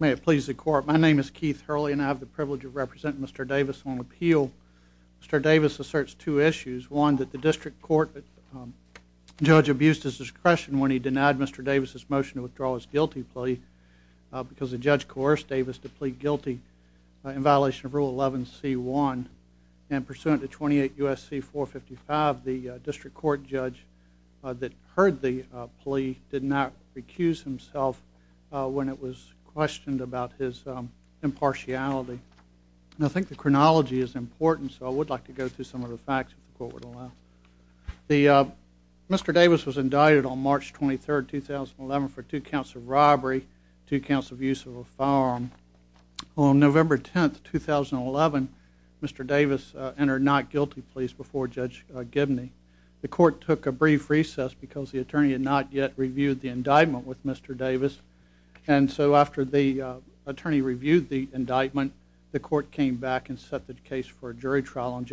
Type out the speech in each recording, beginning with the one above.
May it please the court, my name is Keith Hurley and I have the privilege of representing Mr. Davis on appeal. Mr. Davis asserts two issues, one that the district court judge abused his discretion when he denied Mr. Davis' motion to withdraw his guilty plea because the judge coerced Davis to plead guilty in violation of Rule 11c1 and pursuant to 28 U.S.C. 455, the district court judge that heard the plea did not recuse himself when it was questioned about his impartiality. I think the chronology is important so I would like to go through some of the facts if the court would allow. Mr. Davis was indicted on March 23, 2011 for two counts of robbery, two counts of use of a firearm. On November 10, 2011, Mr. Davis entered not guilty pleas before Judge Gibney. The court took a brief recess because the attorney had not yet reviewed the indictment with Mr. Davis and so after the attorney reviewed the indictment, the court came back and set the case for a jury trial. On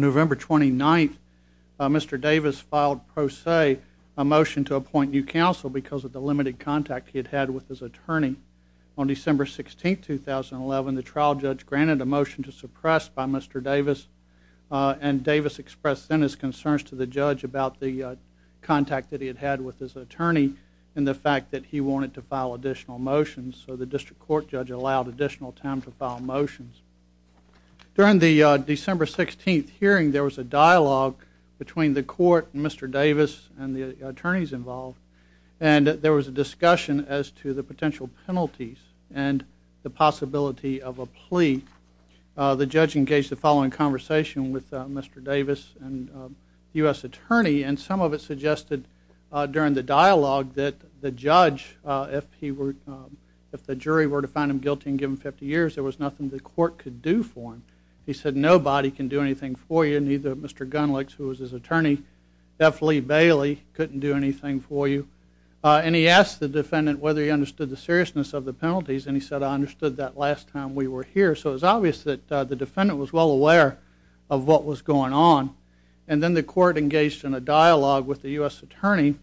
November 29, 2011, Mr. Davis filed pro se a motion to appoint new counsel because of the limited contact he had had with his attorney. On December 16, 2011, the trial judge granted a motion to suppress by Mr. Davis and Davis expressed then his concerns to the judge about the contact that he had had with his attorney and the fact that he wanted to file additional motions. So the district court judge allowed additional time to file motions. During the December 16 hearing, there was a dialogue between the court and Mr. Davis and the attorneys involved and there was a discussion as to the potential penalties and the possibility of a plea. The judge engaged the following conversation with Mr. Davis and U.S. attorney and some of it suggested during the dialogue that the judge, if the court could do for him, he said nobody can do anything for you, neither Mr. Gunlicks who was his attorney, definitely Bailey couldn't do anything for you and he asked the defendant whether he understood the seriousness of the penalties and he said I understood that last time we were here. So it was obvious that the defendant was well aware of what was going on and then the court engaged in a dialogue with the U.S. attorney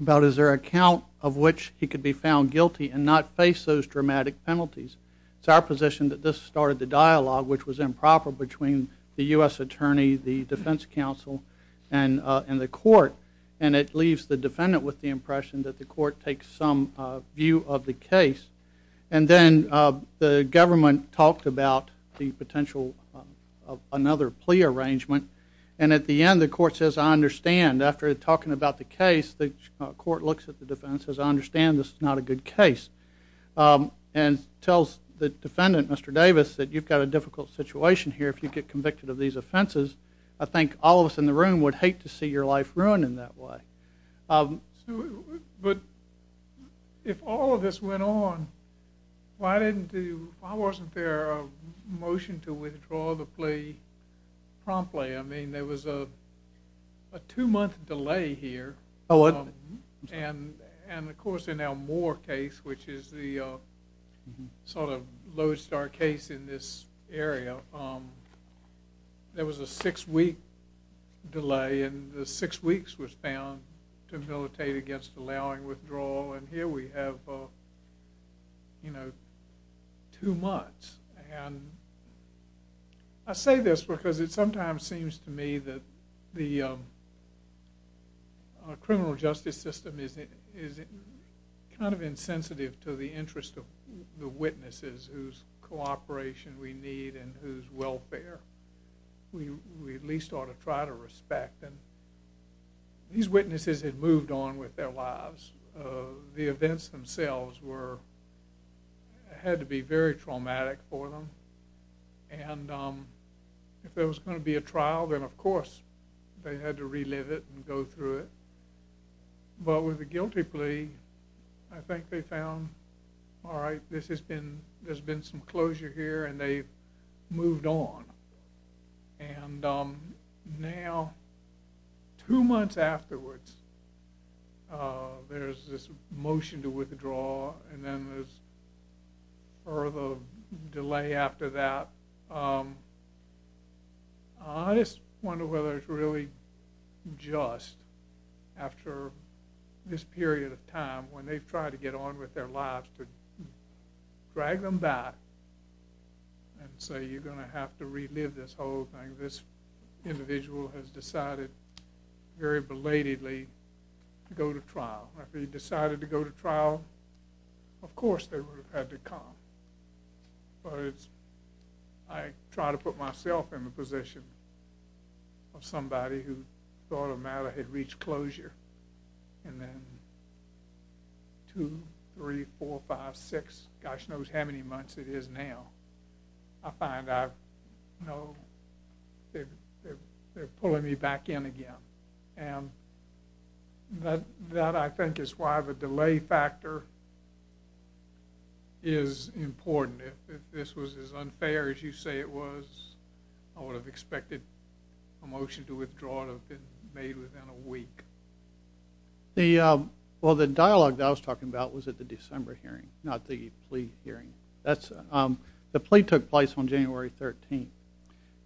about is there a count of which he could be found guilty and not face those dramatic penalties. It's our position that this started the dialogue which was improper between the U.S. attorney, the defense counsel and the court and it leaves the defendant with the impression that the court takes some view of the case and then the government talked about the potential of another plea arrangement and at the end the court says I understand. After talking about the case, the court looks at the defense and says I understand this is not a good case and tells the defendant, Mr. Davis, that you've got a difficult situation here if you get convicted of these offenses. I think all of us in the room would hate to see your life ruined in that way. But if all of this went on, why wasn't there a motion to withdraw the plea promptly? I mean, what? And of course in Elmore case, which is the sort of low star case in this area, there was a six week delay and the six weeks was found to militate against allowing withdrawal and here we have, you know, two months. And I say this because it sometimes seems to me that the criminal justice system is kind of insensitive to the interest of the witnesses whose cooperation we need and whose welfare we at least ought to try to respect. And these witnesses had moved on with their lives. The events themselves had to be very traumatic for them. And if there was going to be a trial, then of course they had to relive it and go through it. But with the guilty plea, I think they found, all right, this has been, there's been some closure here and they've moved on. And now two months afterwards, there's this motion to withdraw and then there's a delay after that. I just wonder whether it's really just after this period of time when they've tried to get on with their lives to drag them back and say, you're going to have to relive this whole thing. This individual has decided very belatedly to go to trial. If he decided to go to trial, of course they would have had to come. But it's, I try to put myself in the position of somebody who thought a matter had reached closure and then two, three, four, five, six, gosh knows how many months it is now. I find I've, you know, they're pulling me back in again. And that I think is why the delay factor is important. If this was as unfair as you say it was, I would have expected a motion to withdraw to have been made within a week. Well, the dialogue that I was talking about was at the December hearing, not the plea hearing. The plea took place on January 13th.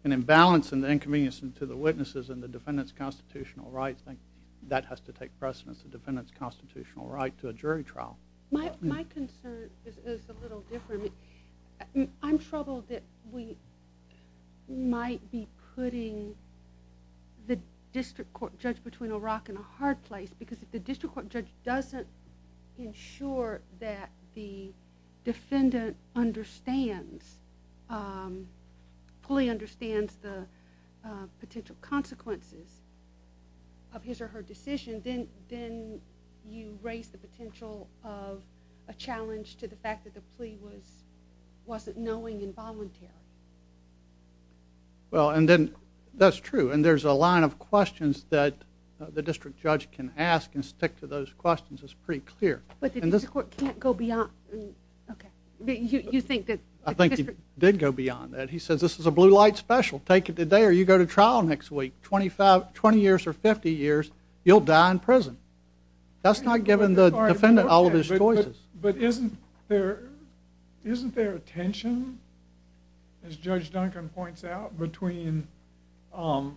An imbalance in the inconvenience to the witnesses and the defendant's constitutional rights, I think that has to take precedence, the defendant's constitutional right to a jury trial. My concern is a little different. I'm troubled that we might be putting the district court judge between a rock and a hard place. Because if the district court judge doesn't ensure that the defendant understands, fully understands the potential consequences of his or her decision, then you raise the potential of a challenge to the fact that the plea was, wasn't knowing involuntary. Well, and then, that's true. And there's a line of questions that the district judge can ask and stick to those questions. It's pretty clear. But the district court can't go beyond, okay. You think that I think he did go beyond that. He says this is a blue light special. Take it today or you go to trial next week. Twenty years or fifty years, you'll die in prison. That's not giving the defendant all of his choices. But isn't there, isn't there a tension, as Judge Duncan points out, between not,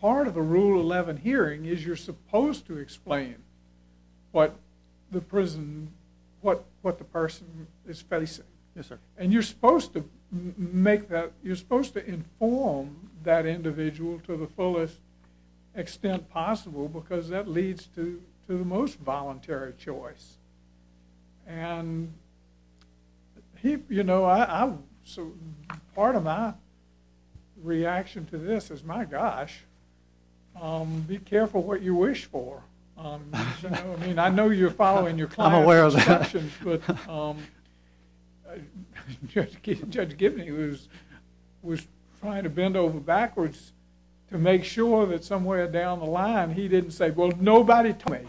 part of the Rule 11 hearing is you're supposed to explain what the prison, what the person is facing. Yes, sir. And you're supposed to make that, you're supposed to inform that individual to the fullest extent possible because that leads to the most voluntary choice. And he, you know, I'm, so part of my reaction to this is, my gosh, be careful what you wish for. You know, I mean, I know you're following your client's instructions, but Judge Gibney was trying to bend over backwards to make sure that somewhere down the line he didn't say, well, nobody told me.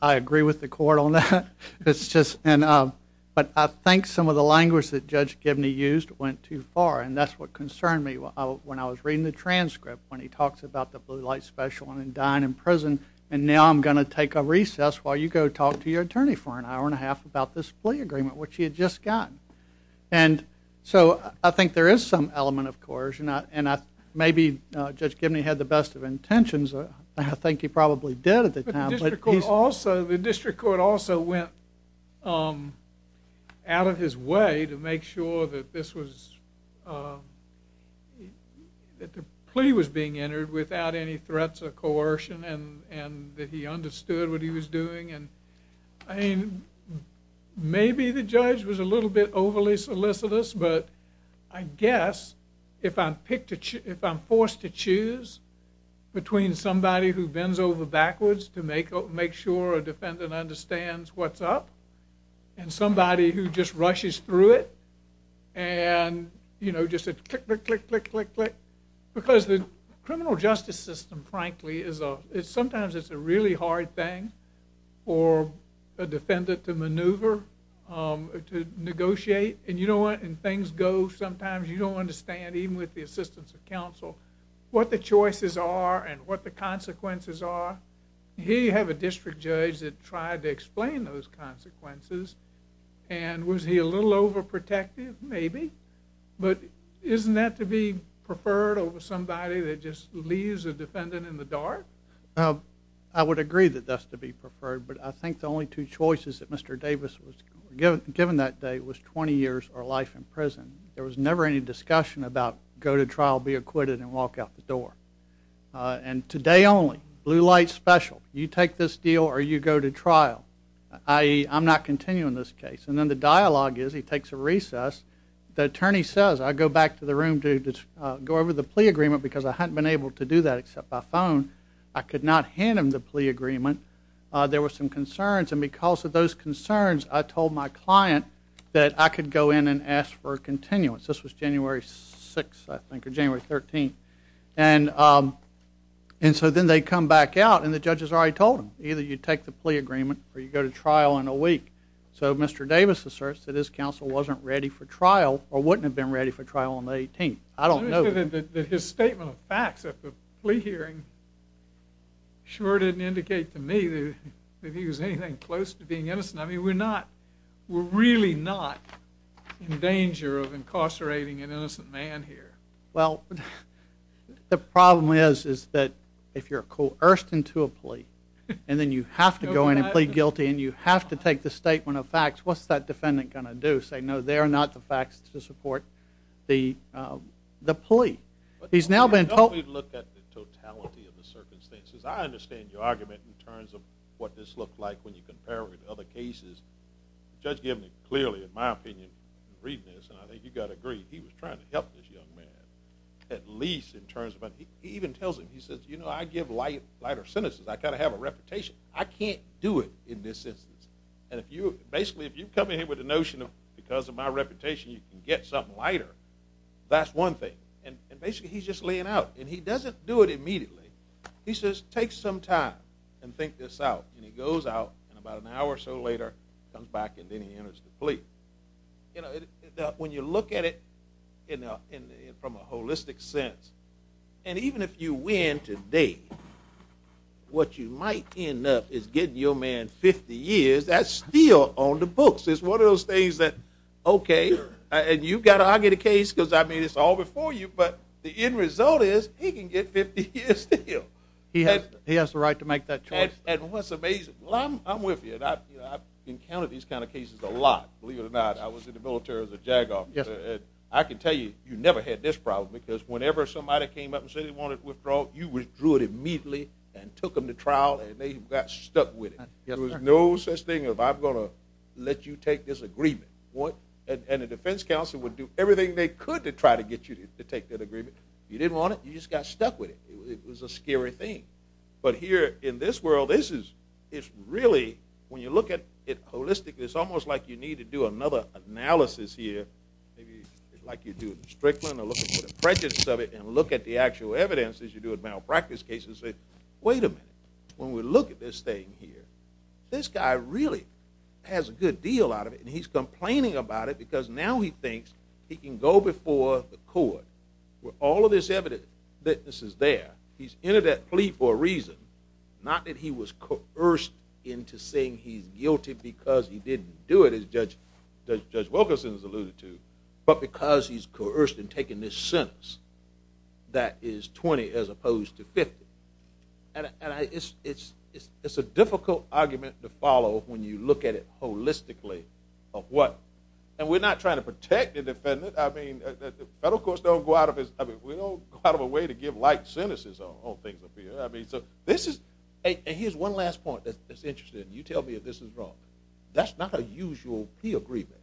I agree with the court on that. It's just, but I think some of the language that Judge Gibney used went too far. And that's what concerned me when I was reading the transcript when he talks about the blue light special and dying in prison. And now I'm going to take a recess while you go talk to your attorney for an hour and a half about this plea agreement which he had just gotten. And so I think there is some element of coercion. And I, maybe Judge Gibney had the best of intentions. I think he probably did at the time, but he's But the district court also, the district court also went out of his way to make sure that this was, that the plea was being entered without any threats of coercion and that he was a little bit overly solicitous. But I guess if I'm forced to choose between somebody who bends over backwards to make sure a defendant understands what's up and somebody who just rushes through it and, you know, just said click, click, click, click, click, click. Because the criminal justice system, frankly, is sometimes it's a really hard thing for a defendant to maneuver, to negotiate. And you know what? And things go sometimes you don't understand, even with the assistance of counsel, what the choices are and what the consequences are. Here you have a district judge that tried to explain those consequences and was he a little overprotective? Maybe. But isn't that to be preferred over somebody that just leaves a defendant in the dark? Well, I would agree that that's to be preferred. But I think the only two choices that Mr. Davis was given that day was 20 years or life in prison. There was never any discussion about go to trial, be acquitted and walk out the door. And today only, blue light special, you take this deal or you go to trial. I'm not continuing this case. And then the dialogue is he takes a recess. The attorney says, I go back to the room to go over the plea agreement because I hadn't been able to do that except by phone. I could not hand him the plea agreement. There were some concerns. And because of those concerns, I told my client that I could go in and ask for a continuance. This was January 6, I think, or January 13. And so then they come back out and the judge has already told him either you take the plea agreement or you go to trial in a week. So Mr. Davis asserts that his counsel wasn't ready for trial or his statement of facts at the plea hearing sure didn't indicate to me that he was anything close to being innocent. I mean, we're not, we're really not in danger of incarcerating an innocent man here. Well, the problem is, is that if you're coerced into a plea and then you have to go in and plead guilty and you have to take the statement of facts, what's that defendant going to do? Say, no, they're not the facts to support the plea. He's now been told. Don't we look at the totality of the circumstances? I understand your argument in terms of what this looks like when you compare it with other cases. The judge gave me clearly, in my opinion, in reading this, and I think you've got to agree, he was trying to help this young man, at least in terms of, he even tells him, he says, you know, I give lighter sentences. I kind of have a reputation. I can't do it in this instance. And if you, basically, if you come in here with a notion of, because of my reputation, you can get something lighter, that's one thing. And basically, he's just laying out, and he doesn't do it immediately. He says, take some time and think this out. And he goes out, and about an hour or so later, comes back, and then he enters the plea. You know, when you look at it, you know, from a holistic sense. And even if you win today, what you might end up is getting your man 50 years. That's still on the books. It's one of those things that, okay, and you've got to argue the case, because, I mean, it's all before you. But the end result is, he can get 50 years still. He has the right to make that choice. And what's amazing, I'm with you. I've encountered these kind of cases a lot, believe it or not. I was in the military as a JAG officer, and I can tell you, you never had this problem, because whenever somebody came up and said they wanted withdrawal, you withdrew it immediately and took them to trial, and they got stuck with it. There was no such thing of, I'm going to let you take this agreement. And the defense counsel would do everything they could to try to get you to take that agreement. You didn't want it, you just got stuck with it. It was a scary thing. But here, in this world, this is, it's really, when you look at it holistically, it's almost like you need to do another analysis here, maybe like you do in the Strickland, or look at the prejudice of it, and look at the actual evidence, as you do in malpractice cases, and say, wait a minute. When we look at this thing here, this guy really has a good deal out of it, and he's complaining about it, because now he thinks he can go before the court, where all of this evidence is there. He's entered that plea for a reason, not that he was coerced into saying he's guilty because he didn't do it, as Judge Wilkerson has alluded to, but because he's coerced in taking this sentence, that is 20 as opposed to 50. It's a difficult argument to follow when you look at it holistically of what, and we're not trying to protect the defendant. I mean, the federal courts don't go out of a way to give light sentences on things up here. I mean, so this is, and here's one last point that's interesting. You tell me if this is wrong. That's not a usual plea agreement.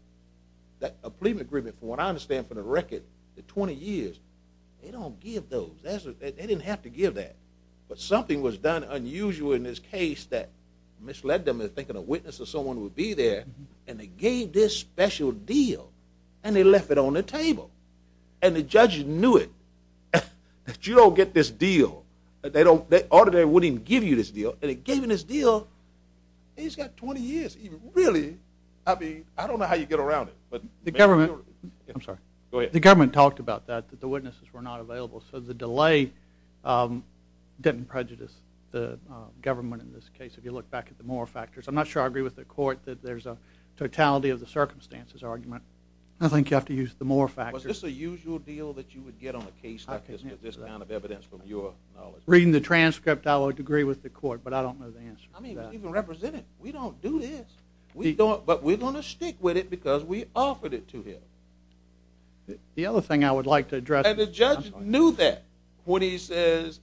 A plea agreement, from what I understand from the record, the 20 years, they don't give those. They didn't have to give that, but something was done unusual in this case that misled them into thinking a witness or someone would be there, and they gave this special deal, and they left it on the table, and the judge knew it. You don't get this deal. They don't, or they wouldn't give you this deal, and they gave him this deal, and he's got 20 years. Really? I mean, I don't know how you get around it, but. The government, I'm sorry. Go ahead. The government talked about that, that the witnesses were not available, so the delay didn't prejudice the government in this case, if you look back at the more factors. I'm not I think you have to use the more factors. Was this a usual deal that you would get on a case like this, with this kind of evidence, from your knowledge? Reading the transcript, I would agree with the court, but I don't know the answer to that. I mean, even representing, we don't do this. We don't, but we're going to stick with it, because we offered it to him. The other thing I would like to address. And the judge knew that, when he says,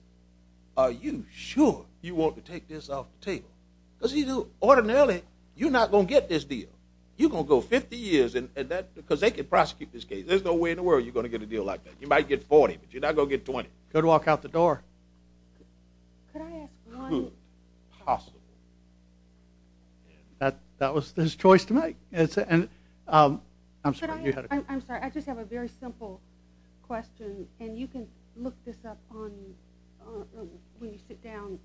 are you sure you want to take this off the table? Because he knew, ordinarily, you're not going to get this deal. You're going to go 50 years, because they could prosecute this case. There's no way in the world you're going to get a deal like that. You might get 40, but you're not going to get 20. Good walk out the door. Could I ask one? Possible. That was his choice to make. I'm sorry, I just have a very simple question, and you can look this up when you sit down.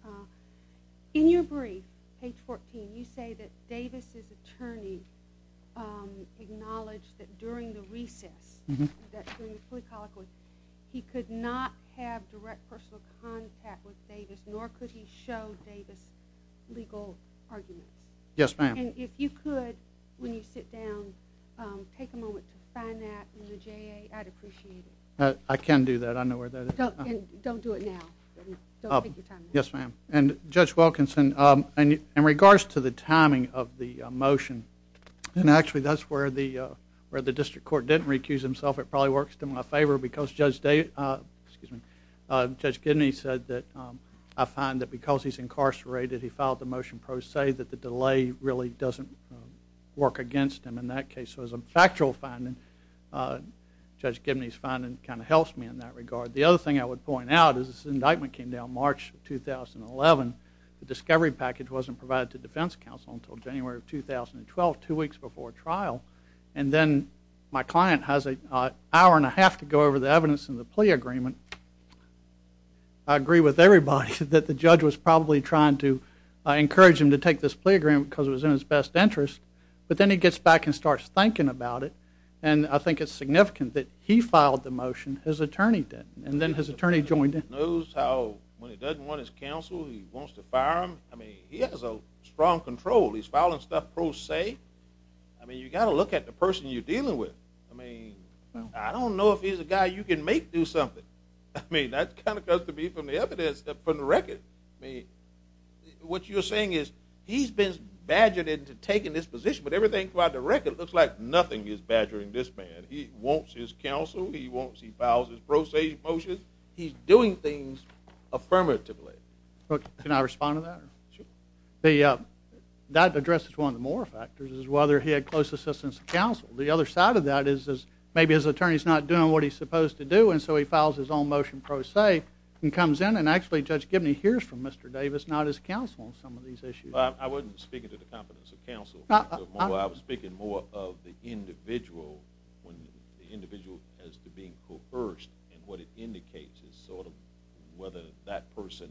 In your brief, page 14, you say that Davis' attorney acknowledged that, during the recess, he could not have direct personal contact with Davis, nor could he show Davis legal arguments. Yes, ma'am. And if you could, when you sit down, take a moment to find that in the JA, I'd appreciate it. I can do that. I know where that is. Don't do it now. Don't take your time. Yes, ma'am. And Judge Wilkinson, in regards to the timing of the motion, and actually, that's where the district court didn't recuse himself. It probably works in my favor, because Judge Gibney said that, I find that because he's incarcerated, he filed the motion pro se, that the delay really doesn't work against him in that case. So as a factual finding, Judge Gibney's finding kind of helps me in that regard. The other thing I would point out is this indictment came down March 2011. The discovery package wasn't provided to defense counsel until January of 2012, two weeks before trial. And then my client has an hour and a half to go over the evidence in the plea agreement. I agree with everybody that the judge was probably trying to encourage him to take this plea agreement because it was in his best interest. But then he gets back and starts thinking about it. And I think it's significant that he filed the motion, his attorney didn't. And then his attorney joined in. He knows how, when he doesn't want his counsel, he wants to fire him. I mean, he has a strong control. He's filing stuff pro se. I mean, you've got to look at the person you're dealing with. I mean, I don't know if he's a guy you can make do something. I mean, that kind of comes to me from the evidence, from the record. I mean, what you're saying is he's been badgered into taking this position, but everything throughout the record looks like nothing is badgering this man. He wants his counsel. He wants, he files his pro se motion. He's doing things affirmatively. Can I respond to that? Sure. That addresses one of the more factors is whether he had close assistance of counsel. The other side of that is maybe his attorney's not doing what he's supposed to do. And so he files his own motion pro se and comes in. And actually, Judge Gibney hears from Mr. Davis, not his counsel on some of these issues. I wasn't speaking to the competence of counsel. I was speaking more of the individual as to being coerced. And what it indicates is sort of whether that person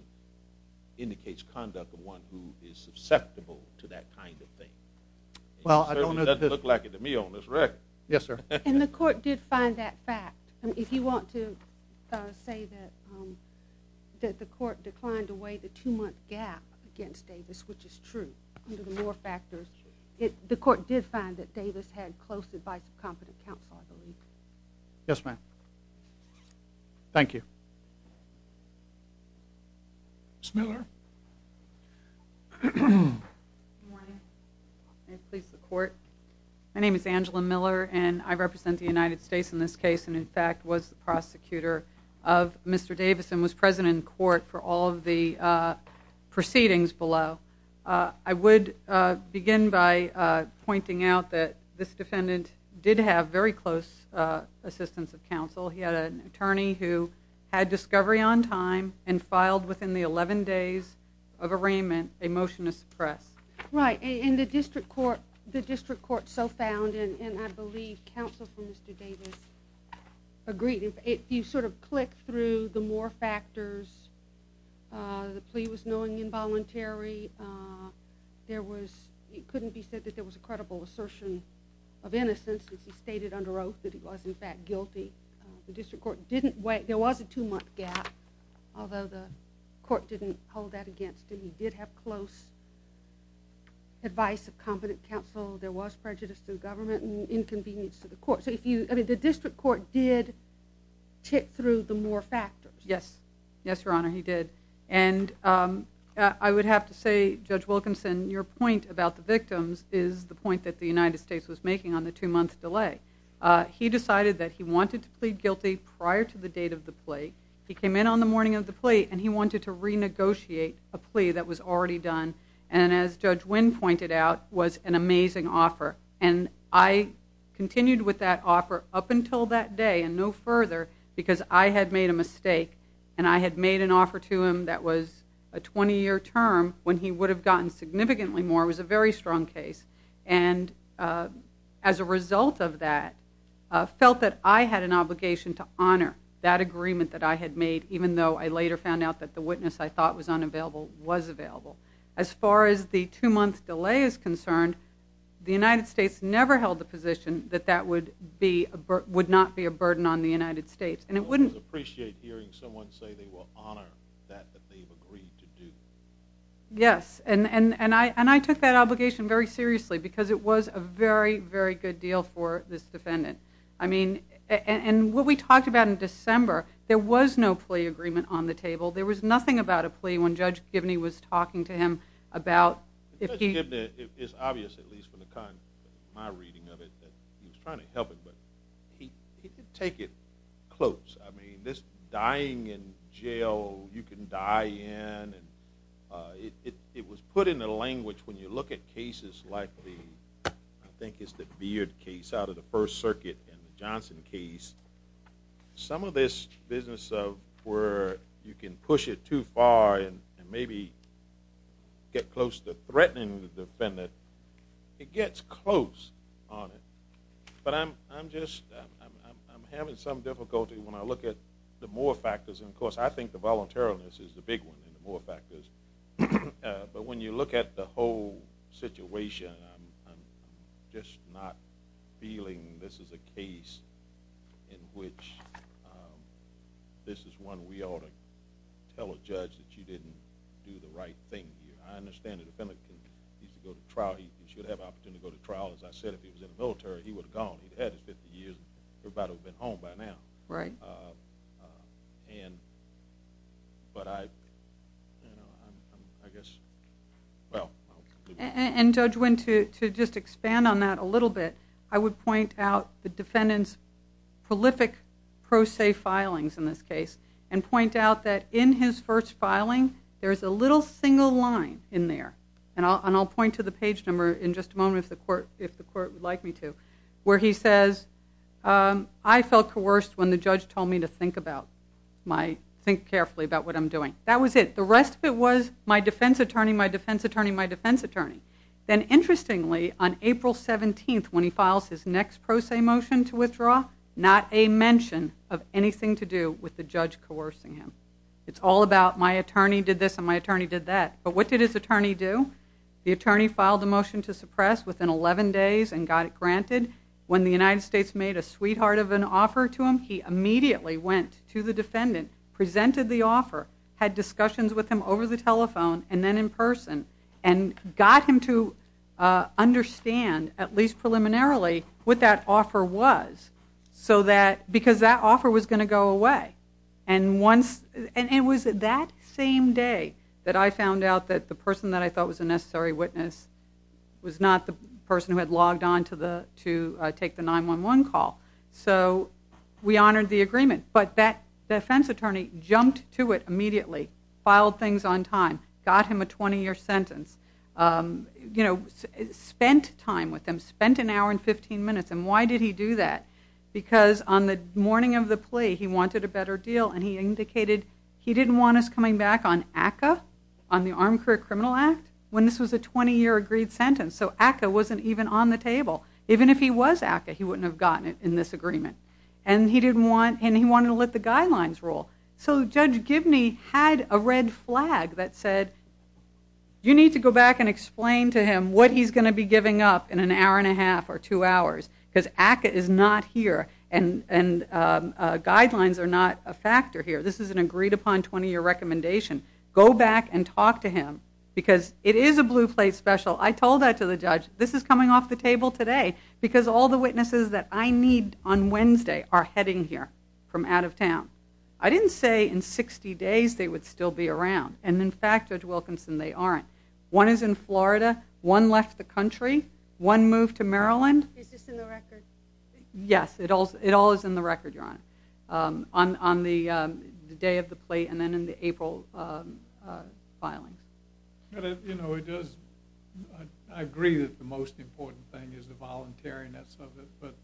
indicates conduct of one who is susceptible to that kind of thing. Well, I don't know. It doesn't look like it to me on this record. Yes, sir. And the court did find that fact. And if you want to say that the court declined to weigh the two-month gap against Davis, which is true, under the more factors, the court did find that Davis had close advice of competent counsel, I believe. Yes, ma'am. Thank you. Ms. Miller. Good morning. May it please the court. My name is Angela Miller, and I represent the United States in this case and, in fact, was the prosecutor of Mr. Davis and was president in court for all of the proceedings below. I would begin by pointing out that this defendant did have very close assistance of counsel. He had an attorney who had discovery on time and filed within the 11 days of arraignment a motion to suppress. Right. And the district court so found, and I believe counsel for Mr. Davis agreed, if you sort of click through the more factors, the plea was knowing involuntary, there was, it couldn't be said that there was a credible assertion of innocence, since he stated under oath that he was, in fact, guilty. The district court didn't weigh, there was a two-month gap, although the court didn't hold that against him. He did have close advice of competent counsel. There was prejudice to the government and inconvenience to the court. So if you, I mean, the district court did tick through the more factors. Yes. Yes, Your Honor, he did. And I would have to say, Judge Wilkinson, your point about the victims is the point that the United States was making on the two-month delay. He decided that he wanted to plead guilty prior to the date of the plea. He came in on the morning of the plea and he wanted to renegotiate a plea that was already done. And as Judge Wynn pointed out, was an amazing offer. And I continued with that offer up until that day and no further because I had made a mistake and I had made an offer to him that was a 20-year term when he would have gotten significantly more. It was a very strong case. And as a result of that, I felt that I had an obligation to honor that agreement that I had made, even though I later found out that the witness I thought was unavailable was available. As far as the two-month delay is concerned, the United States never held the position that that would be, would not be a burden on the United States. And it wouldn't... I would appreciate hearing someone say they will honor that that they've agreed to do. Yes. And I took that obligation very seriously because it was a very, very good deal for this defendant. I mean, and what we talked about in December, there was no plea agreement on the table. There was nothing about a plea when Judge Gibney was talking to him about... Judge Gibney is obvious, at least from the kind of my reading of it, that he was trying close. I mean, this dying in jail, you can die in, and it was put into language when you look at cases like the, I think it's the Beard case out of the First Circuit and the Johnson case. Some of this business of where you can push it too far and maybe get close to threatening the defendant, it gets close on it. But I'm just, I'm having some difficulty when I look at the more factors. And of course, I think the voluntariliness is the big one and the more factors. But when you look at the whole situation, I'm just not feeling this is a case in which this is one we ought to tell a judge that you didn't do the right thing here. I understand the defendant needs to go to trial. He should have an opportunity to go to trial. As I said, if he was in the military, he would have gone. He'd had his 50 years. Everybody would have been home by now. Right. And, but I, you know, I guess, well... And Judge Wynn, to just expand on that a little bit, I would point out the defendant's prolific pro se filings in this case and point out that in his first filing, there's a little single line in there. And I'll point to the page number in just a moment if the court would like me to, where he says, I felt coerced when the judge told me to think about my, think carefully about what I'm doing. That was it. The rest of it was my defense attorney, my defense attorney, my defense attorney. Then interestingly, on April 17th, when he files his next pro se motion to withdraw, not a mention of anything to do with the judge coercing him. It's all about my attorney did this and my attorney did that. But what did his attorney do? The attorney filed the motion to suppress within 11 days and got it granted. When the United States made a sweetheart of an offer to him, he immediately went to the defendant, presented the offer, had discussions with him over the telephone and then in person and got him to understand, at least preliminarily, what that offer was. So that, because that offer was going to go away. And once, and it was that same day that I found out that the person that I thought was a necessary witness was not the person who had logged on to the, to take the 911 call. So we honored the agreement. But that defense attorney jumped to it immediately, filed things on time, got him a 20 year sentence, you know, spent time with him, spent an hour and 15 minutes. And why did he do that? Because on the morning of the plea, he wanted a better deal and he indicated he didn't want us coming back on ACCA, on the Armed Career Criminal Act, when this was a 20 year agreed sentence. So ACCA wasn't even on the table. Even if he was ACCA, he wouldn't have gotten it in this agreement. And he didn't want, and he wanted to let the guidelines roll. So Judge Gibney had a red flag that said, you need to go back and explain to him what he's going to be giving up in an hour and a half or two hours, because ACCA is not here and, and guidelines are not a factor here. This is an agreed upon 20 year recommendation. Go back and talk to him because it is a blue plate special. I told that to the judge, this is coming off the table today because all the witnesses that I need on Wednesday are heading here from out of town. I didn't say in 60 days they would still be around. And in fact, Judge Wilkinson, they aren't. One is in Florida. One left the country. One moved to Maryland. Is this in the record? Yes, it all is in the record, Your Honor, on the day of the plate and then in the April filings. You know, it does. I agree that the most important thing is the voluntariness of it. But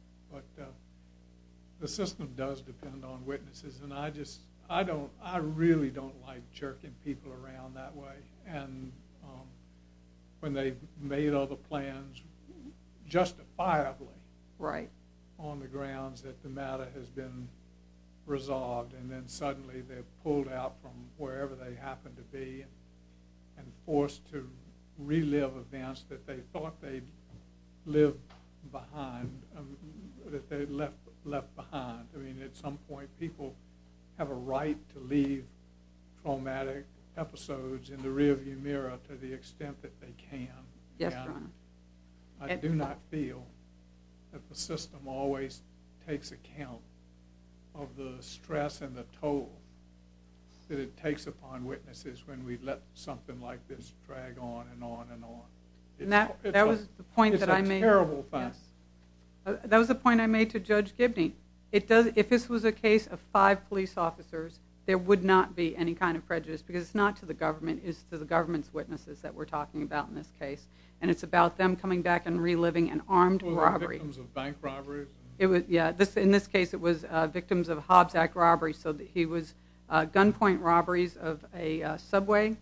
the system does depend on witnesses. And I just, I don't, I really don't like jerking people around that way. And when they've made other plans justifiably. Right. On the grounds that the matter has been resolved and then suddenly they're pulled out from wherever they happen to be and forced to relive events that they thought they'd lived behind, that they'd left, left behind. I mean, at some point people have a right to leave traumatic episodes in the rearview mirror to the extent that they can. Yes, Your Honor. I do not feel that the system always takes account of the stress and the toll that it takes upon witnesses when we let something like this drag on and on and on. And that was the point that I made. It's a terrible thing. That was the point I made to Judge Gibney. If this was a case of five police officers, there would not be any kind of prejudice. Because it's not to the government. It's to the government's witnesses that we're talking about in this case. And it's about them coming back and reliving an armed robbery. Victims of bank robberies. In this case it was victims of Hobbs Act robberies. So he was gunpoint robberies of a Subway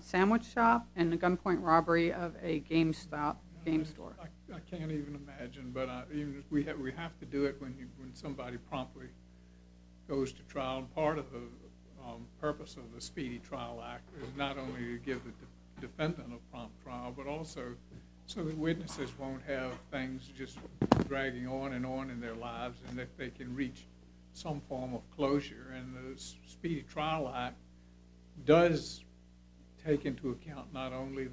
sandwich shop and a gunpoint robbery of a GameStop game store. I can't even imagine. But we have to do it when somebody promptly goes to trial. Part of the purpose of the Speedy Trial Act is not only to give the defendant a prompt trial but also so that witnesses won't have things just dragging on and on in their lives and that they can reach some form of closure. And the Speedy Trial Act does take into account not only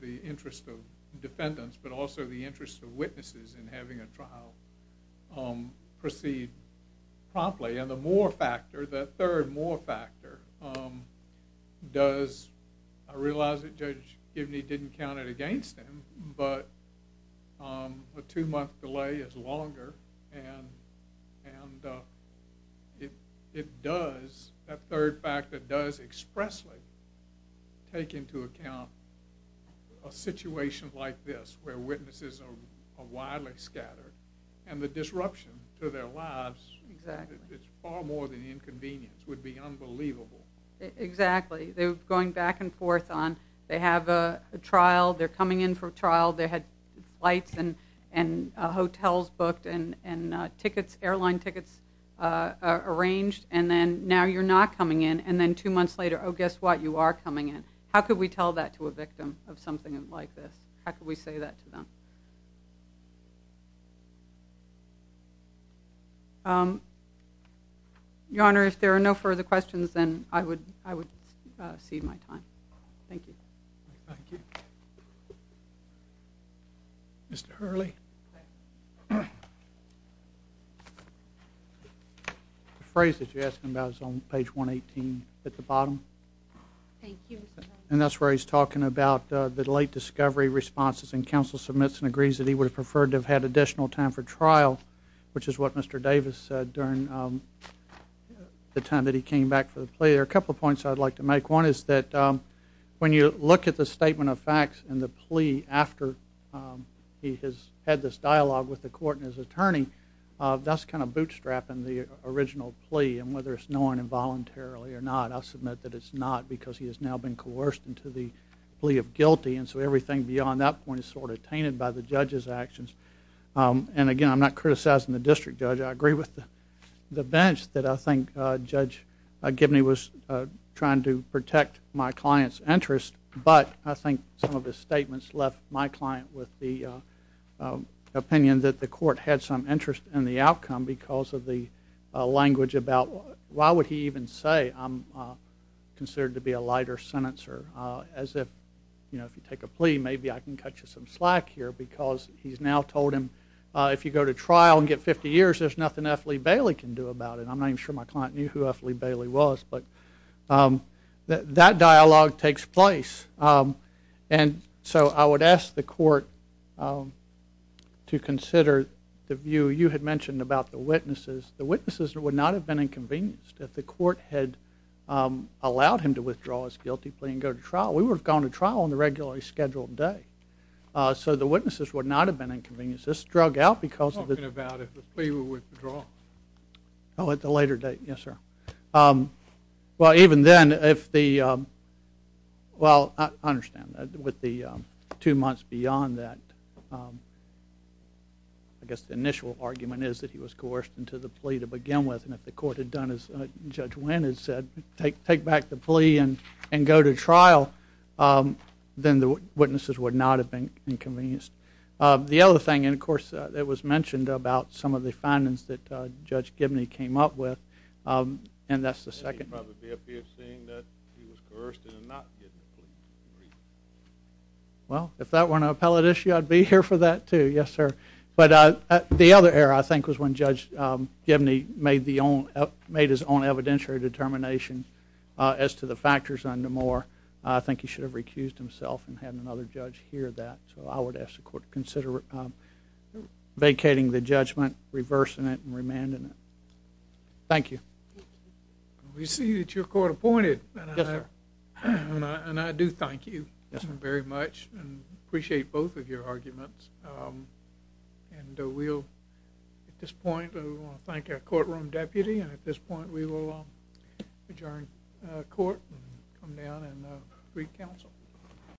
the interest of defendants but also the interest of witnesses in having a trial proceed promptly. And the third more factor does, I realize that Judge Gibney didn't count it against him, but a two-month delay is longer. And that third factor does expressly take into account a situation like this, where witnesses are widely scattered and the disruption to their lives is far more than inconvenience. It would be unbelievable. Exactly. They're going back and forth on, they have a trial, they're coming in for a trial, they had flights and hotels booked and airline tickets arranged and then now you're not coming in and then two months later, oh guess what, you are coming in. How could we tell that to a victim of something like this? How could we say that to them? Your Honor, if there are no further questions, then I would cede my time. Thank you. Mr. Hurley. The phrase that you're asking about is on page 118 at the bottom. Thank you. And that's where he's talking about the late discovery responses. And counsel submits and agrees that he would have preferred to have had additional time for trial, which is what Mr. Davis said during the time that he came back for the plea. There are a couple of points I'd like to make. One is that when you look at the statement of facts and the plea after he has had this dialogue with the court and his attorney, that's kind of bootstrapping the original plea. And whether it's knowing involuntarily or not, I'll submit that it's not because he has now been coerced into the plea of guilty. And so everything beyond that point is sort of tainted by the judge's actions. And again, I'm not criticizing the district judge. I agree with the bench that I think Judge Gibney was trying to protect my client's interest. But I think some of his statements left my client with the opinion that the court had some interest in the outcome because of the language about why would he even say I'm your sentencer as if, you know, if you take a plea, maybe I can cut you some slack here because he's now told him if you go to trial and get 50 years, there's nothing F. Lee Bailey can do about it. I'm not even sure my client knew who F. Lee Bailey was. But that dialogue takes place. And so I would ask the court to consider the view you had mentioned about the witnesses. The witnesses would not have been inconvenienced if the court had allowed him to withdraw his guilty plea and go to trial. We would have gone to trial on the regularly scheduled day. So the witnesses would not have been inconvenienced. This drug out because of it. Talking about if the plea were withdrawn. Oh, at the later date. Yes, sir. Well, even then, if the well, I understand that with the two months beyond that. I guess the initial argument is that he was coerced into the plea to begin with. If the court had done as Judge Wynn had said, take back the plea and go to trial, then the witnesses would not have been inconvenienced. The other thing, and of course, it was mentioned about some of the findings that Judge Gibney came up with. And that's the second. Well, if that weren't an appellate issue, I'd be here for that, too. Yes, sir. But the other error, I think, was when Judge Gibney made his own evidentiary determination as to the factors under Moore. I think he should have recused himself and had another judge hear that. So I would ask the court to consider vacating the judgment, reversing it, and remanding it. Thank you. We see that you're court appointed. And I do thank you very much and appreciate both of your arguments. And we'll, at this point, we want to thank our courtroom deputy. And at this point, we will adjourn court and come down and read counsel.